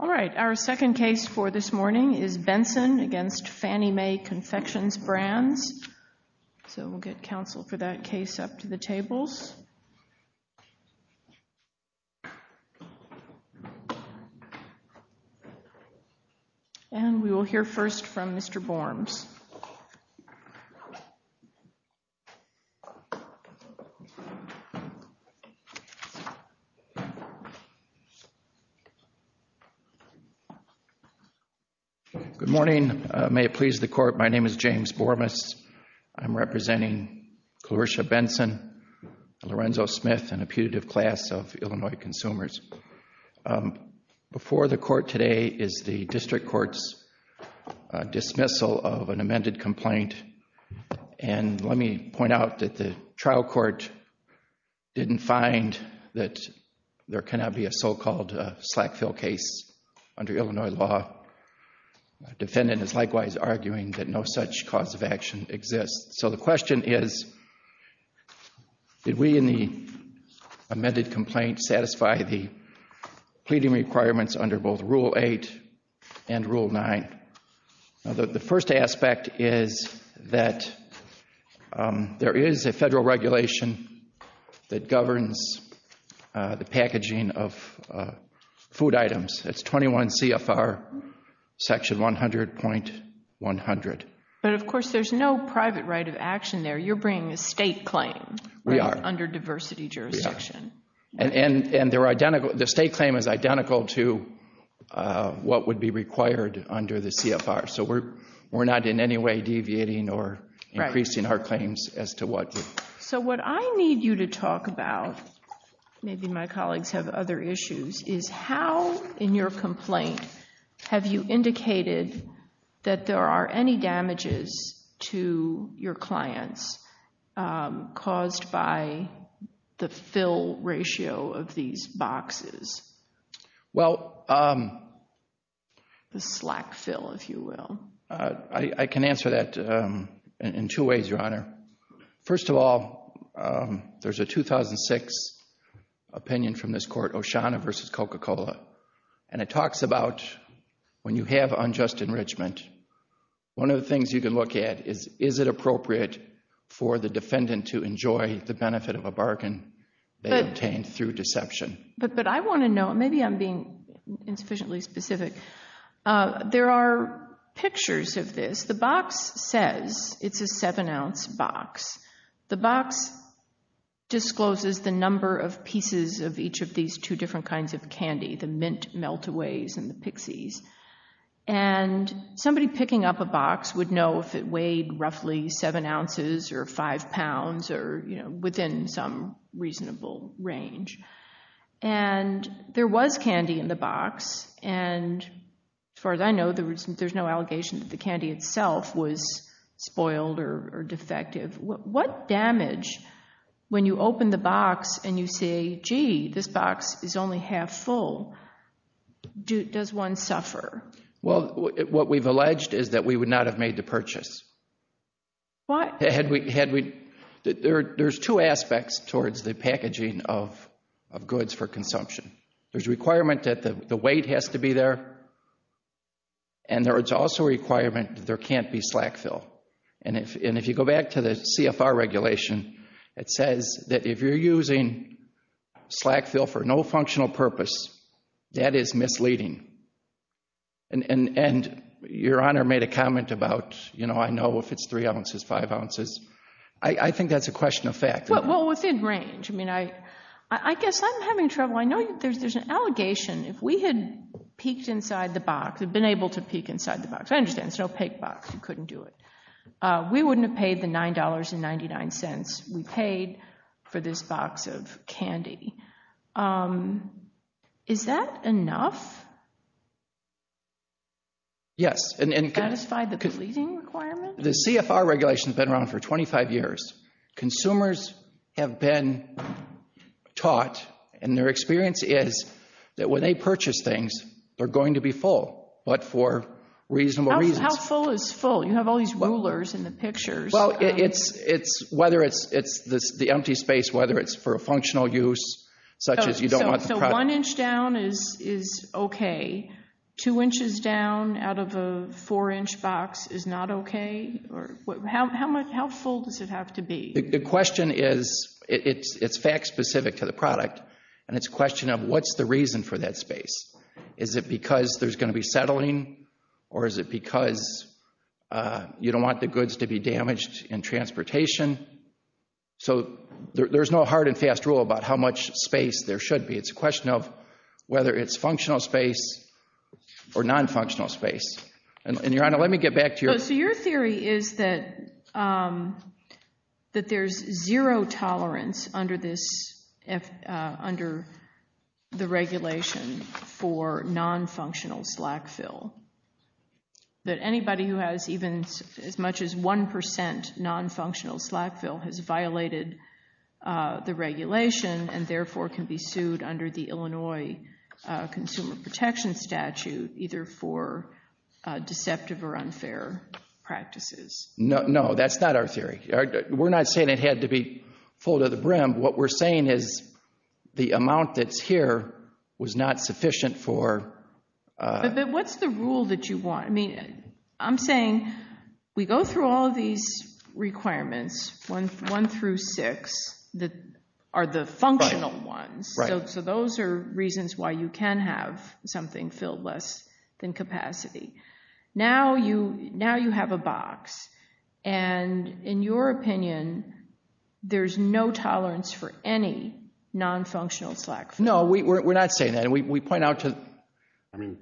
All right, our second case for this morning is Benson v. Fannie May Confections Brands. So we'll get counsel for that case up to the tables. And we will hear first from Mr. Borms. Good morning. May it please the court, my name is James Bormas. I'm representing Clarisha Benson, Lorenzo Smith, and a putative class of Illinois consumers. Before the court today is the district court's dismissal of an amended complaint. And let me point out that the trial court didn't find that there cannot be a so-called slack fill case under Illinois law. The defendant is likewise arguing that no such cause of action exists. So the question is, did we in the amended complaint satisfy the pleading requirements under both Rule 8 and Rule 9? The first aspect is that there is a federal regulation that governs the packaging of food items. That's 21 CFR section 100.100. But of course there's no private right of action there. You're bringing a state claim under diversity jurisdiction. And the state claim is identical to what would be required under the CFR. So we're not in any way deviating or increasing our claims as to what... So what I need you to talk about, maybe my colleagues have other issues, is how in your of these boxes? Well... The slack fill, if you will. I can answer that in two ways, Your Honor. First of all, there's a 2006 opinion from this court, O'Shaughnessy v. Coca-Cola. And it talks about when you have unjust enrichment, one of the things you can look at is, is it appropriate for the defendant to enjoy the obtained through deception? But I want to know, maybe I'm being insufficiently specific. There are pictures of this. The box says it's a 7-ounce box. The box discloses the number of pieces of each of these two different kinds of candy, the mint melt-aways and the pixies. And somebody picking up a whole range. And there was candy in the box. And as far as I know, there's no allegation that the candy itself was spoiled or defective. What damage, when you open the box and you say, gee, this box is only half full, does one suffer? Well, what we've alleged is that we would not have made the purchase. What? There's two aspects towards the packaging of goods for consumption. There's a requirement that the weight has to be there. And there's also a requirement that there can't be slack fill. And if you go back to the CFR regulation, it says that if you're using slack fill for no functional purpose, that is misleading. And Your Honor made a comment about, you know, I know if it's 3 ounces, 5 ounces. I think that's a question of fact. Well, within range. I mean, I guess I'm having trouble. I know there's an allegation. If we had peeked inside the box, had been able to peek inside the box. I understand, it's an opaque box, you couldn't do it. We wouldn't have paid the $9.99 we paid for this box of candy. Is that enough? Yes. To satisfy the misleading requirement? The CFR regulation has been around for 25 years. Consumers have been taught, and their experience is, that when they purchase things, they're going to be full, but for reasonable reasons. How full is full? You have all these rulers in the pictures. Well, it's whether it's the empty space, whether it's for a functional use, such as you don't So, one inch down is okay. Two inches down out of a four inch box is not okay? How full does it have to be? The question is, it's fact specific to the product, and it's a question of what's the reason for that space? Is it because there's going to be settling, or is it because you don't want the goods to be damaged in transportation? So, there's no hard and fast rule about how much space there should be. It's a question of whether it's functional space or non-functional space. Your Honor, let me get back to your So, your theory is that there's zero tolerance under the regulation for non-functional slack fill. That anybody who has even as much as 1% non-functional slack fill has violated the regulation, and therefore can be sued under the Illinois Consumer Protection Statute either for deceptive or unfair practices. No, that's not our theory. We're not saying it had to be full to the brim. What we're saying is the amount that's here was not sufficient for But what's the rule that you want? I mean, I'm saying we go through all of these requirements, one through six, that are the functional ones. So, those are reasons why you can have something filled less than capacity. Now you have a box, and in your opinion, there's no tolerance for any non-functional slack fill. No, we're not saying that. We point out to I mean,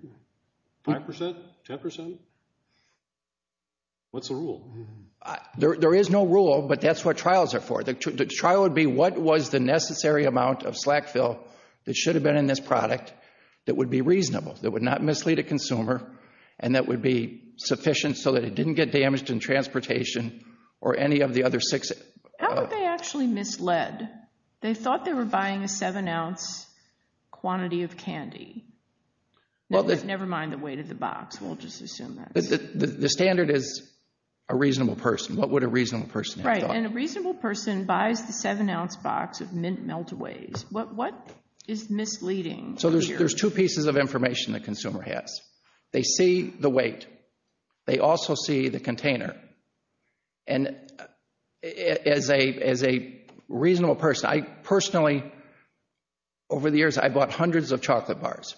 5%? 10%? What's the rule? There is no rule, but that's what trials are for. The trial would be what was the necessary amount of slack fill that should have been in this product that would be reasonable, that would not mislead a consumer, and that would be sufficient so that it didn't get damaged in transportation or any of the other six How would they actually mislead? They thought they were buying a seven ounce quantity of candy. Never mind the weight of the box, we'll just assume that. The standard is a reasonable person. What would a reasonable person have thought? Right, and a reasonable person buys the seven ounce box of mint meltaways. What is misleading? So, there's two pieces of information the consumer has. They see the weight. They also see the container. And as a reasonable person, I personally, over the years, I bought hundreds of chocolate bars.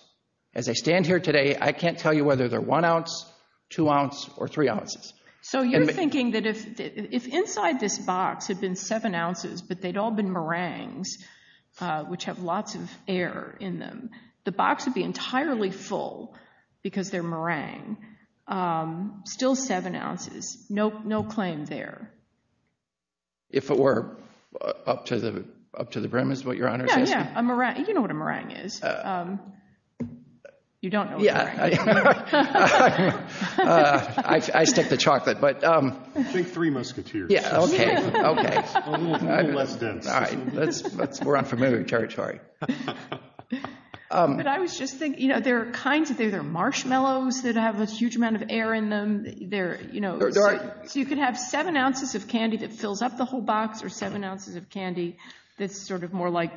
As I stand here today, I can't tell you whether they're one ounce, two ounce, or three ounces. So, you're thinking that if inside this box had been seven ounces, but they'd all been meringues, which have lots of air in them, the box would be entirely full because they're meringue. Still seven ounces. No claim there. If it were up to the brim is what your Honor is asking? Yeah, you know what a meringue is. You don't know what a meringue is. I stick to chocolate. I think three musketeers. A little less dense. We're on familiar territory. But I was just thinking, there are kinds of things. There are marshmallows that have a huge amount of air in them. So, you could have seven ounces of candy that fills up the whole box, or seven ounces of candy that's sort of more like,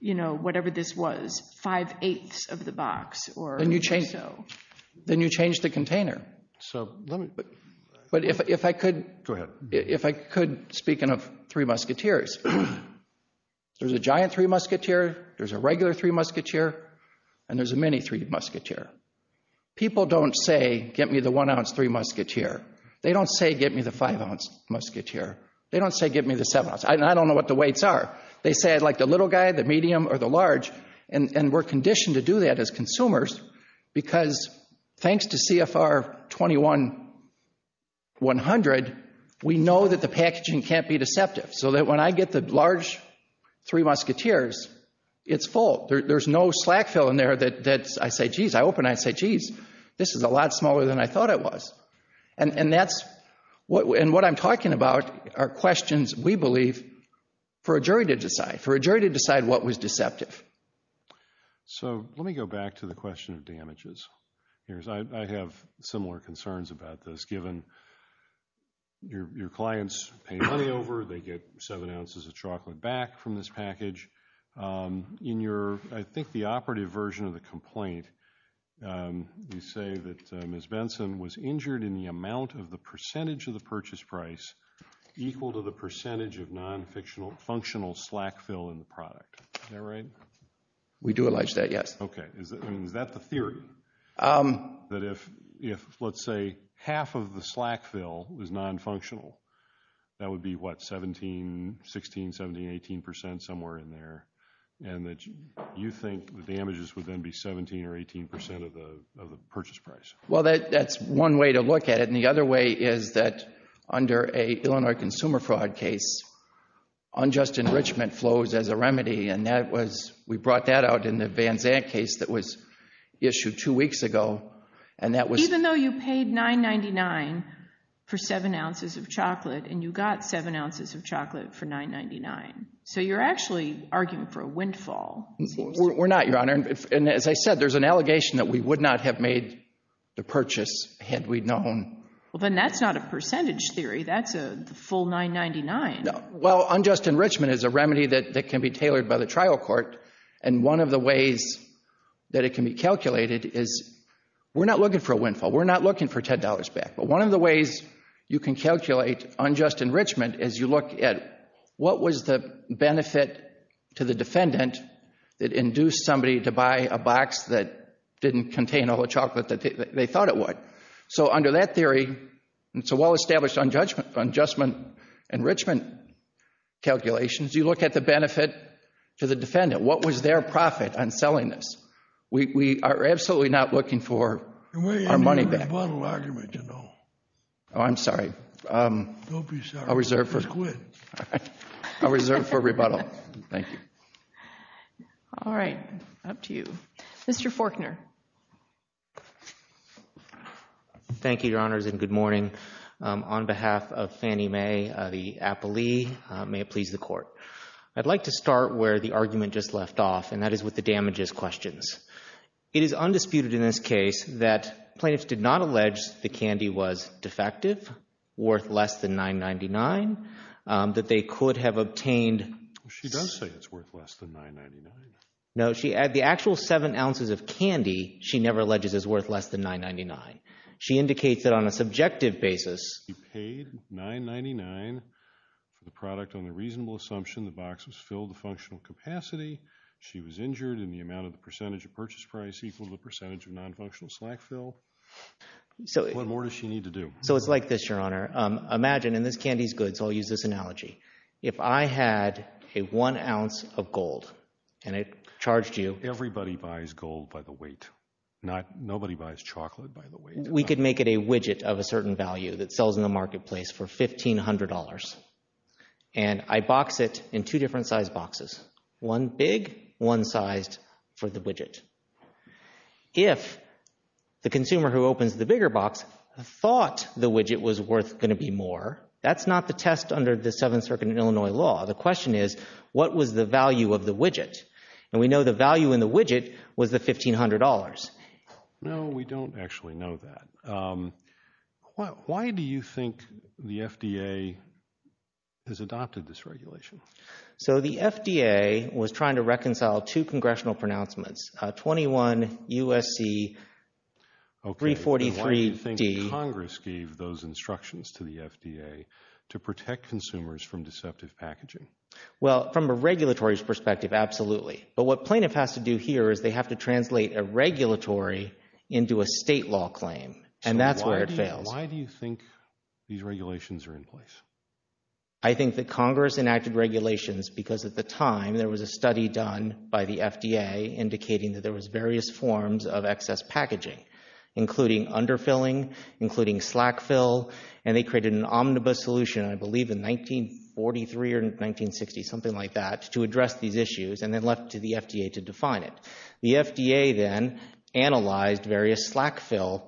you know, whatever this was. Five-eighths of the box or so. Then you change the container. But if I could... Go ahead. If I could, speaking of three musketeers, there's a giant three musketeer, there's a regular three musketeer, and there's a mini three musketeer. People don't say, get me the one ounce three musketeer. They don't say, get me the five ounce musketeer. They don't say, get me the seven ounce. I don't know what the weights are. They say, I'd like the little guy, the medium, or the large. And we're conditioned to do that as consumers, because thanks to CFR 21-100, we know that the packaging can't be deceptive. So that when I get the large three musketeers, it's full. There's no slack fill in there that I say, jeez, I open it, I say, jeez, this is a lot smaller than I thought it was. And that's... And what I'm talking about are questions, we believe, for a jury to decide. For a jury to decide what was deceptive. So let me go back to the question of damages. I have similar concerns about this, given your clients pay money over, they get seven ounces of chocolate back from this package. In your, I think, the operative version of the complaint, you say that Ms. Benson was injured in the amount of the percentage of the purchase price equal to the percentage of non-functional slack fill in the product. Is that right? We do allege that, yes. Okay. Is that the theory? That if, let's say, half of the slack fill was non-functional, that would be what, 17, 16, 17, 18 percent, somewhere in there? And that you think the damages would then be 17 or 18 percent of the purchase price? Well, that's one way to look at it. And the other way is that under an Illinois consumer fraud case, unjust enrichment flows as a remedy. And that was, we brought that out in the Van Zandt case that was issued two weeks ago. And that was... And you got seven ounces of chocolate for $9.99. So you're actually arguing for a windfall. We're not, Your Honor. And as I said, there's an allegation that we would not have made the purchase had we known. Well, then that's not a percentage theory. That's a full $9.99. Well, unjust enrichment is a remedy that can be tailored by the trial court. And one of the ways that it can be calculated is we're not looking for a windfall. We're not looking for $10 back. But one of the ways you can calculate unjust enrichment is you look at what was the benefit to the defendant that induced somebody to buy a box that didn't contain all the chocolate they thought it would. So, under that theory, it's a well-established unjust enrichment calculation. You look at the benefit to the defendant. What was their profit on selling this? We are absolutely not looking for our money back. It's a rebuttal argument, you know. Oh, I'm sorry. Don't be sorry. I'll reserve for... Just quit. All right. I'll reserve for rebuttal. Thank you. All right. Up to you. Mr. Forkner. Thank you, Your Honors, and good morning. On behalf of Fannie Mae, the appellee, may it please the Court. I'd like to start where the argument just left off, and that is with the damages questions. It is undisputed in this case that plaintiffs did not allege the candy was defective, worth less than $9.99, that they could have obtained... She does say it's worth less than $9.99. No, the actual 7 ounces of candy she never alleges is worth less than $9.99. She indicates that on a subjective basis... She paid $9.99 for the product on the reasonable assumption the box was filled to functional capacity. She was injured in the amount of the percentage of purchase price equal to the percentage of nonfunctional slack fill. What more does she need to do? So it's like this, Your Honor. Imagine, and this candy's good, so I'll use this analogy. If I had a one ounce of gold and I charged you... Everybody buys gold by the weight. Nobody buys chocolate by the weight. We could make it a widget of a certain value that sells in the marketplace for $1,500, and I box it in two different size boxes, one big, one sized, for the widget. If the consumer who opens the bigger box thought the widget was worth going to be more, that's not the test under the Seventh Circuit of Illinois law. The question is, what was the value of the widget? And we know the value in the widget was the $1,500. No, we don't actually know that. Why do you think the FDA has adopted this regulation? So the FDA was trying to reconcile two congressional pronouncements, 21 U.S.C. 343D. Why do you think Congress gave those instructions to the FDA to protect consumers from deceptive packaging? Well, from a regulatory perspective, absolutely. But what plaintiff has to do here is they have to translate a regulatory into a state law claim, and that's where it fails. Why do you think these regulations are in place? I think that Congress enacted regulations because at the time there was a study done by the FDA indicating that there was various forms of excess packaging, including underfilling, including slack fill, and they created an omnibus solution, I believe in 1943 or 1960, something like that, to address these issues and then left to the FDA to define it. The FDA then analyzed various slack fill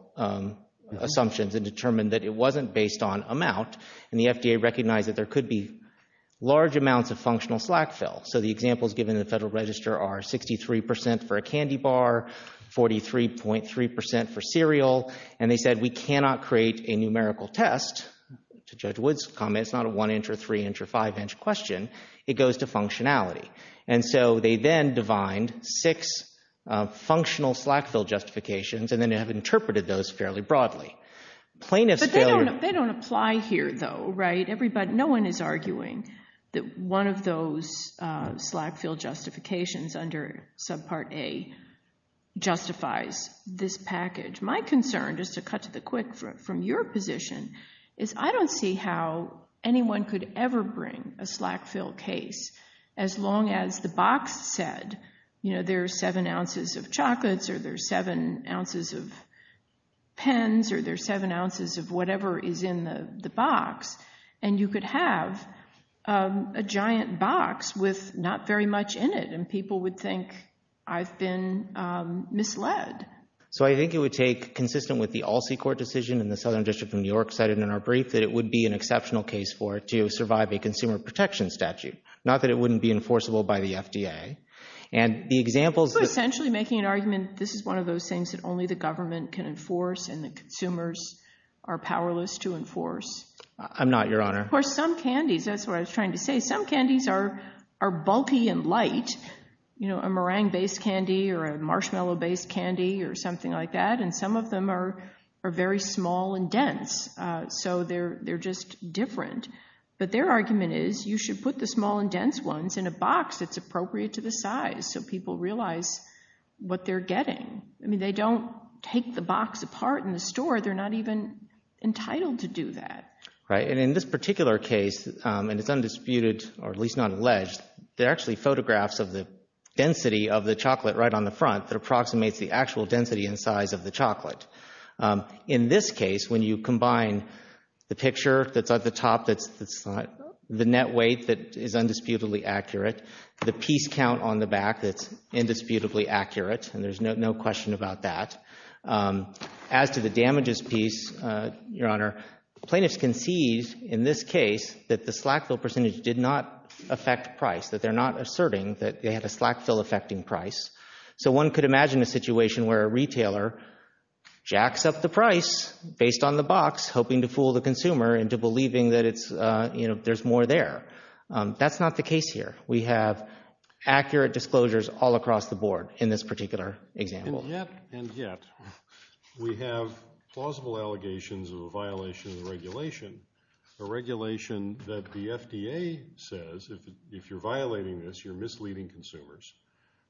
assumptions and determined that it wasn't based on amount, and the FDA recognized that there could be large amounts of functional slack fill. So the examples given in the Federal Register are 63% for a candy bar, 43.3% for cereal, and they said we cannot create a numerical test. To Judge Wood's comment, it's not a one-inch or three-inch or five-inch question. It goes to functionality. And so they then defined six functional slack fill justifications and then have interpreted those fairly broadly. But they don't apply here, though, right? No one is arguing that one of those slack fill justifications under subpart A justifies this package. My concern, just to cut to the quick from your position, is I don't see how anyone could ever bring a slack fill case as long as the box said, you know, there are seven ounces of chocolates or there are seven ounces of pens or there are seven ounces of whatever is in the box, and you could have a giant box with not very much in it, and people would think I've been misled. So I think it would take, consistent with the ALSEI court decision in the Southern District of New York cited in our brief, that it would be an exceptional case for it to survive a consumer protection statute, not that it wouldn't be enforceable by the FDA. You're essentially making an argument this is one of those things that only the government can enforce and the consumers are powerless to enforce. I'm not, Your Honor. Of course, some candies, that's what I was trying to say, some candies are bulky and light, you know, a meringue-based candy or a marshmallow-based candy or something like that, and some of them are very small and dense, so they're just different. But their argument is you should put the small and dense ones in a box that's appropriate to the size so people realize what they're getting. I mean, they don't take the box apart in the store. They're not even entitled to do that. Right, and in this particular case, and it's undisputed, or at least not alleged, they're actually photographs of the density of the chocolate right on the front that approximates the actual density and size of the chocolate. In this case, when you combine the picture that's at the top, the net weight that is undisputedly accurate, the piece count on the back that's indisputably accurate, and there's no question about that. As to the damages piece, Your Honor, plaintiffs concede in this case that the slack fill percentage did not affect price, that they're not asserting that they had a slack fill affecting price. So one could imagine a situation where a retailer jacks up the price based on the box, hoping to fool the consumer into believing that there's more there. That's not the case here. We have accurate disclosures all across the board in this particular example. Yet and yet, we have plausible allegations of a violation of the regulation, a regulation that the FDA says if you're violating this, you're misleading consumers.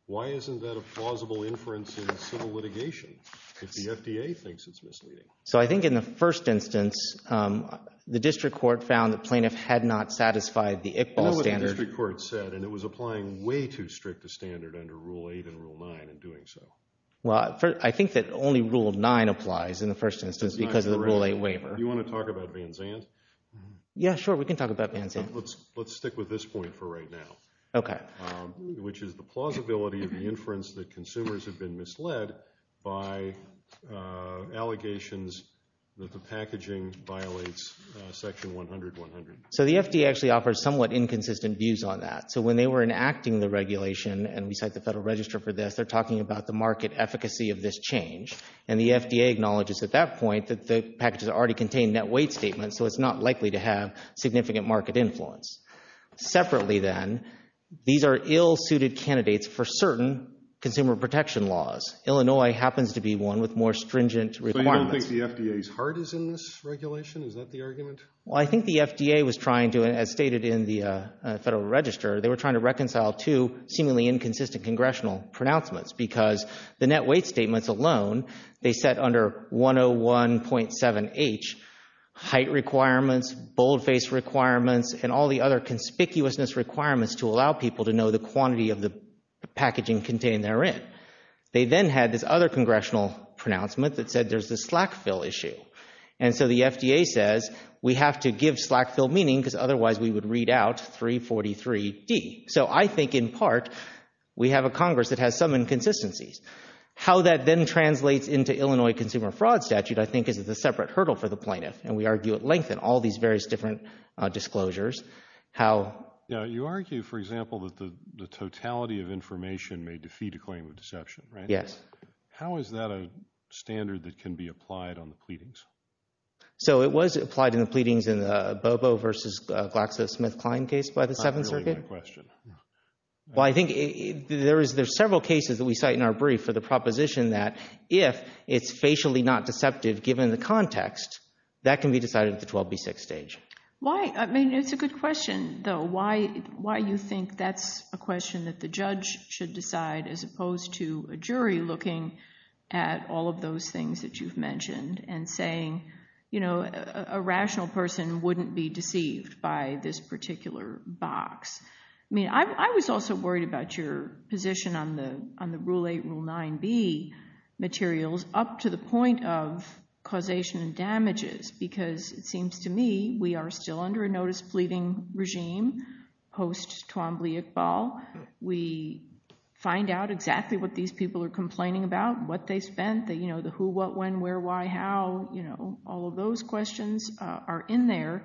Why isn't that a plausible inference in civil litigation if the FDA thinks it's misleading? So I think in the first instance, the district court found the plaintiff had not satisfied the ICBAL standard. The district court said, and it was applying way too strict a standard under Rule 8 and Rule 9 in doing so. Well, I think that only Rule 9 applies in the first instance because of the Rule 8 waiver. Do you want to talk about Van Zandt? Yeah, sure, we can talk about Van Zandt. Let's stick with this point for right now, which is the plausibility of the inference that consumers have been misled by allegations that the packaging violates Section 100100. So the FDA actually offers somewhat inconsistent views on that. So when they were enacting the regulation, and we cite the Federal Register for this, they're talking about the market efficacy of this change, and the FDA acknowledges at that point that the packages already contain net weight statements, so it's not likely to have significant market influence. Separately then, these are ill-suited candidates for certain consumer protection laws. Illinois happens to be one with more stringent requirements. So you don't think the FDA's heart is in this regulation? Is that the argument? Well, I think the FDA was trying to, as stated in the Federal Register, they were trying to reconcile two seemingly inconsistent congressional pronouncements because the net weight statements alone, they set under 101.7H height requirements, boldface requirements, and all the other conspicuousness requirements to allow people to know the quantity of the packaging contained therein. They then had this other congressional pronouncement that said there's this slack fill issue. And so the FDA says we have to give slack fill meaning because otherwise we would read out 343D. So I think in part we have a Congress that has some inconsistencies. How that then translates into Illinois consumer fraud statute I think is a separate hurdle for the plaintiff, and we argue at length in all these various different disclosures. You argue, for example, that the totality of information may defeat a claim of deception, right? Yes. How is that a standard that can be applied on the pleadings? So it was applied in the pleadings in the Bobo v. GlaxoSmithKline case by the Seventh Circuit? Not really my question. Well, I think there's several cases that we cite in our brief for the proposition that if it's facially not deceptive given the context, that can be decided at the 12B6 stage. Why? I mean, it's a good question, though. Why you think that's a question that the judge should decide as opposed to a jury looking at all of those things that you've mentioned and saying, you know, a rational person wouldn't be deceived by this particular box. I mean, I was also worried about your position on the Rule 8, Rule 9B materials up to the point of causation and damages because it seems to me we are still under a notice-pleading regime post-Tawambli Iqbal. We find out exactly what these people are complaining about, what they spent, the who, what, when, where, why, how, you know, all of those questions are in there.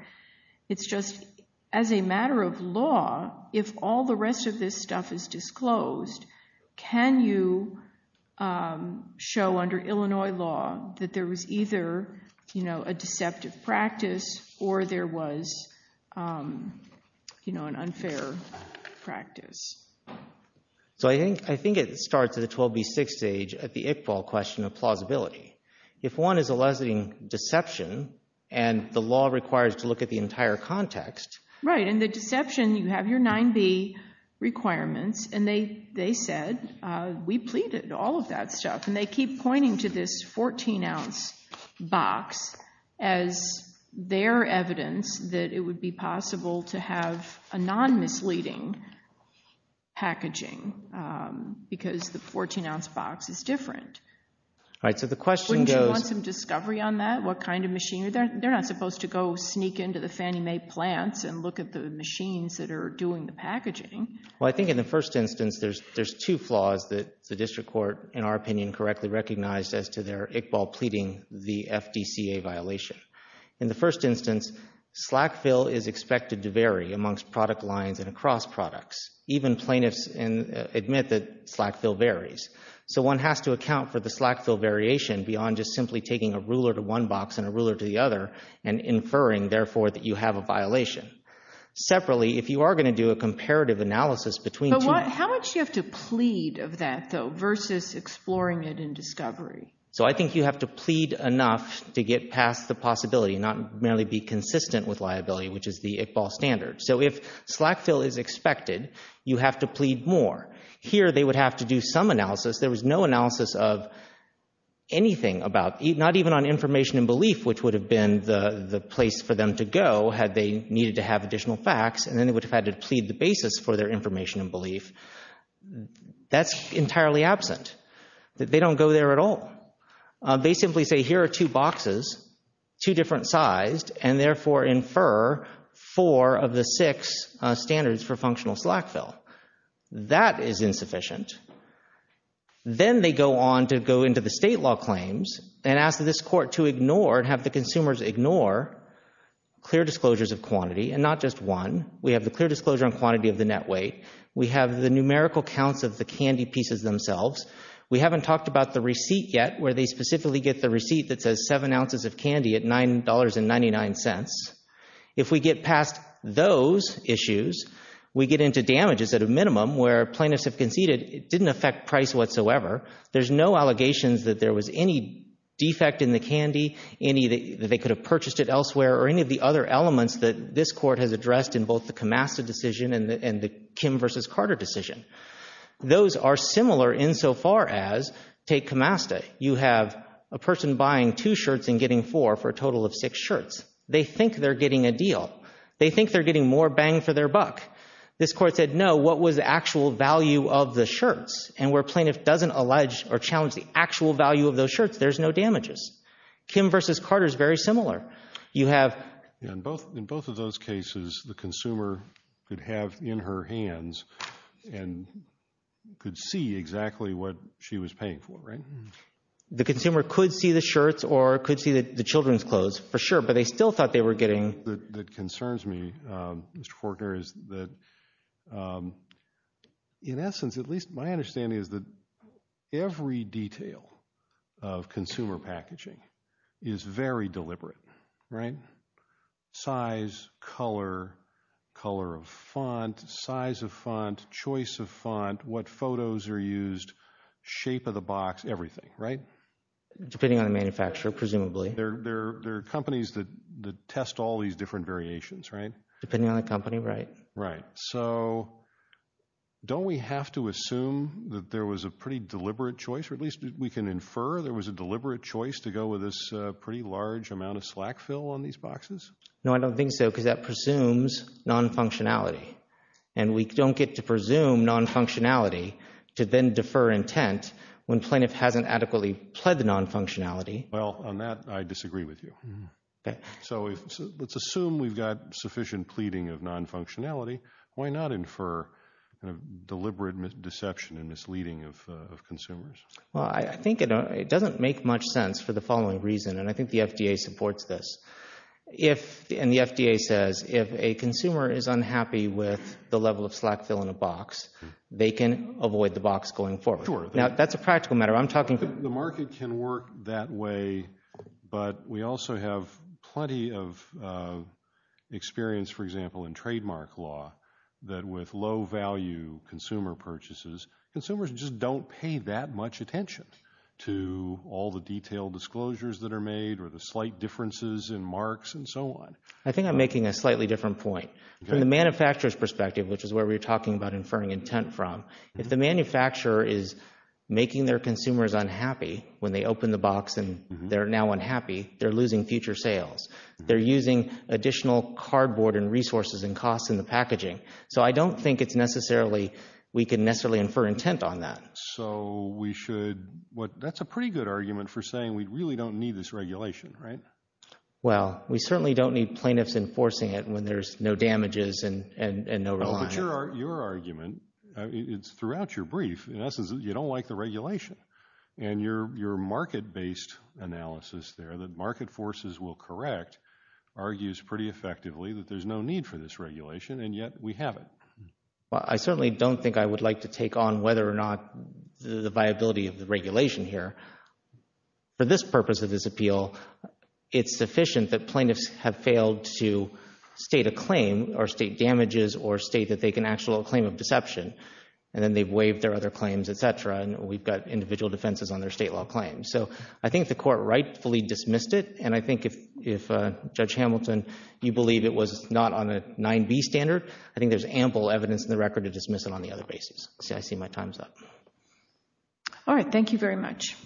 It's just as a matter of law, if all the rest of this stuff is disclosed, can you show under Illinois law that there was either, you know, a deceptive practice or there was, you know, an unfair practice? So I think it starts at the 12B6 stage at the Iqbal question of plausibility. If one is a lessening deception and the law requires to look at the entire context. Right, and the deception, you have your 9B requirements, and they said, we pleaded, all of that stuff, and they keep pointing to this 14-ounce box as their evidence that it would be possible to have a non-misleading packaging because the 14-ounce box is different. Wouldn't you want some discovery on that? What kind of machine? They're not supposed to go sneak into the Fannie Mae plants and look at the machines that are doing the packaging. Well, I think in the first instance there's two flaws that the district court in our opinion correctly recognized as to their Iqbal pleading the FDCA violation. In the first instance, slack fill is expected to vary amongst product lines and across products. Even plaintiffs admit that slack fill varies. So one has to account for the slack fill variation beyond just simply taking a ruler to one box and a ruler to the other and inferring, therefore, that you have a violation. Separately, if you are going to do a comparative analysis between two… How much do you have to plead of that, though, versus exploring it in discovery? So I think you have to plead enough to get past the possibility and not merely be consistent with liability, which is the Iqbal standard. So if slack fill is expected, you have to plead more. Here they would have to do some analysis. There was no analysis of anything about, not even on information and belief, which would have been the place for them to go had they needed to have additional facts, and then they would have had to plead the basis for their information and belief. That's entirely absent. They don't go there at all. They simply say, here are two boxes, two different sized, and therefore infer four of the six standards for functional slack fill. That is insufficient. Then they go on to go into the state law claims and ask this court to ignore and have the consumers ignore clear disclosures of quantity, and not just one. We have the clear disclosure on quantity of the net weight. We have the numerical counts of the candy pieces themselves. We haven't talked about the receipt yet, where they specifically get the receipt that says seven ounces of candy at $9.99. If we get past those issues, we get into damages at a minimum where plaintiffs have conceded it didn't affect price whatsoever. There's no allegations that there was any defect in the candy, any that they could have purchased it elsewhere, or any of the other elements that this court has addressed in both the Camasta decision and the Kim v. Carter decision. Those are similar insofar as, take Camasta, you have a person buying two shirts and getting four for a total of six shirts. They think they're getting a deal. They think they're getting more bang for their buck. This court said, no, what was the actual value of the shirts? And where plaintiff doesn't allege or challenge the actual value of those shirts, there's no damages. Kim v. Carter is very similar. You have— In both of those cases, the consumer could have in her hands and could see exactly what she was paying for, right? The consumer could see the shirts or could see the children's clothes, for sure, but they still thought they were getting— What concerns me, Mr. Fortner, is that, in essence, at least my understanding is that every detail of consumer packaging is very deliberate, right? Size, color, color of font, size of font, choice of font, what photos are used, shape of the box, everything, right? Depending on the manufacturer, presumably. There are companies that test all these different variations, right? Depending on the company, right. Right. So don't we have to assume that there was a pretty deliberate choice, or at least we can infer there was a deliberate choice to go with this pretty large amount of slack fill on these boxes? No, I don't think so because that presumes non-functionality. And we don't get to presume non-functionality to then defer intent when plaintiff hasn't adequately pled the non-functionality. Well, on that, I disagree with you. So let's assume we've got sufficient pleading of non-functionality. Why not infer deliberate deception and misleading of consumers? Well, I think it doesn't make much sense for the following reason, and I think the FDA supports this. And the FDA says if a consumer is unhappy with the level of slack fill in a box, they can avoid the box going forward. Now, that's a practical matter. The market can work that way, but we also have plenty of experience, for example, in trademark law, that with low-value consumer purchases, consumers just don't pay that much attention to all the detailed disclosures that are made or the slight differences in marks and so on. I think I'm making a slightly different point. From the manufacturer's perspective, which is where we were talking about inferring intent from, if the manufacturer is making their consumers unhappy when they open the box and they're now unhappy, they're losing future sales. They're using additional cardboard and resources and costs in the packaging. So I don't think we can necessarily infer intent on that. So that's a pretty good argument for saying we really don't need this regulation, right? Well, we certainly don't need plaintiffs enforcing it when there's no damages and no reliance. But your argument, it's throughout your brief, in essence, you don't like the regulation. And your market-based analysis there, that market forces will correct, argues pretty effectively that there's no need for this regulation, and yet we have it. Well, I certainly don't think I would like to take on whether or not the viability of the regulation here. For this purpose of this appeal, it's sufficient that plaintiffs have failed to state a claim or state damages or state that they can actually claim a deception. And then they've waived their other claims, et cetera, and we've got individual defenses on their state law claims. So I think the Court rightfully dismissed it, and I think if, Judge Hamilton, you believe it was not on a 9b standard, I think there's ample evidence in the record to dismiss it on the other basis. I see my time's up. All right, thank you very much.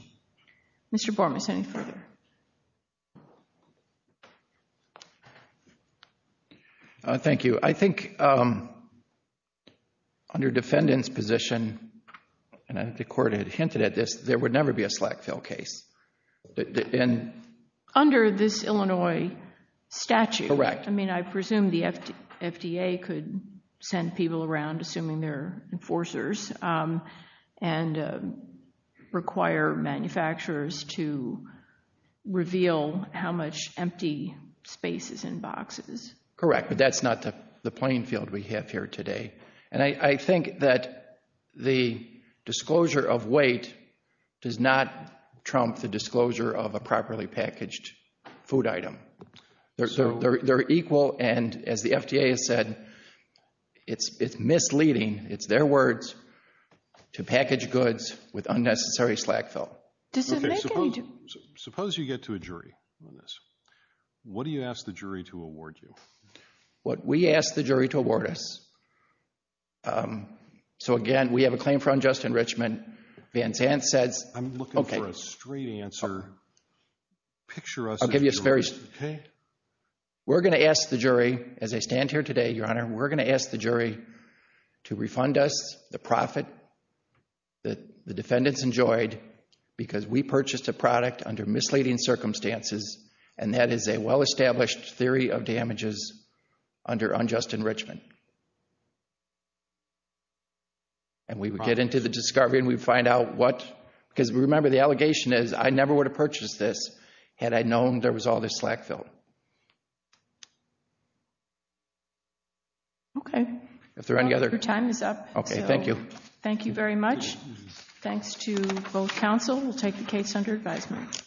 Mr. Bormas, any further? Thank you. I think under defendant's position, and I think the Court had hinted at this, there would never be a slack fill case. Under this Illinois statute, I mean, I presume the FDA could send people around, assuming they're enforcers, and require manufacturers to reveal how much empty space is in boxes. Correct, but that's not the playing field we have here today. And I think that the disclosure of weight does not trump the disclosure of a properly packaged food item. They're equal, and as the FDA has said, it's misleading, it's their words, to package goods with unnecessary slack fill. Okay, suppose you get to a jury on this. What do you ask the jury to award you? What we ask the jury to award us. So, again, we have a claim for unjust enrichment. Van Zandt says, okay. I'm looking for a straight answer. Picture us as jurors. I'll give you a very straight answer. We're going to ask the jury, as I stand here today, Your Honor, we're going to ask the jury to refund us the profit that the defendants enjoyed because we purchased a product under misleading circumstances, and that is a well-established theory of damages under unjust enrichment. And we would get into the discovery and we would find out what, because remember the allegation is I never would have purchased this had I known there was all this slack fill. Okay. If there are any other. Your time is up. Okay, thank you. Thank you very much. Thanks to both counsel. We'll take the case under advisement.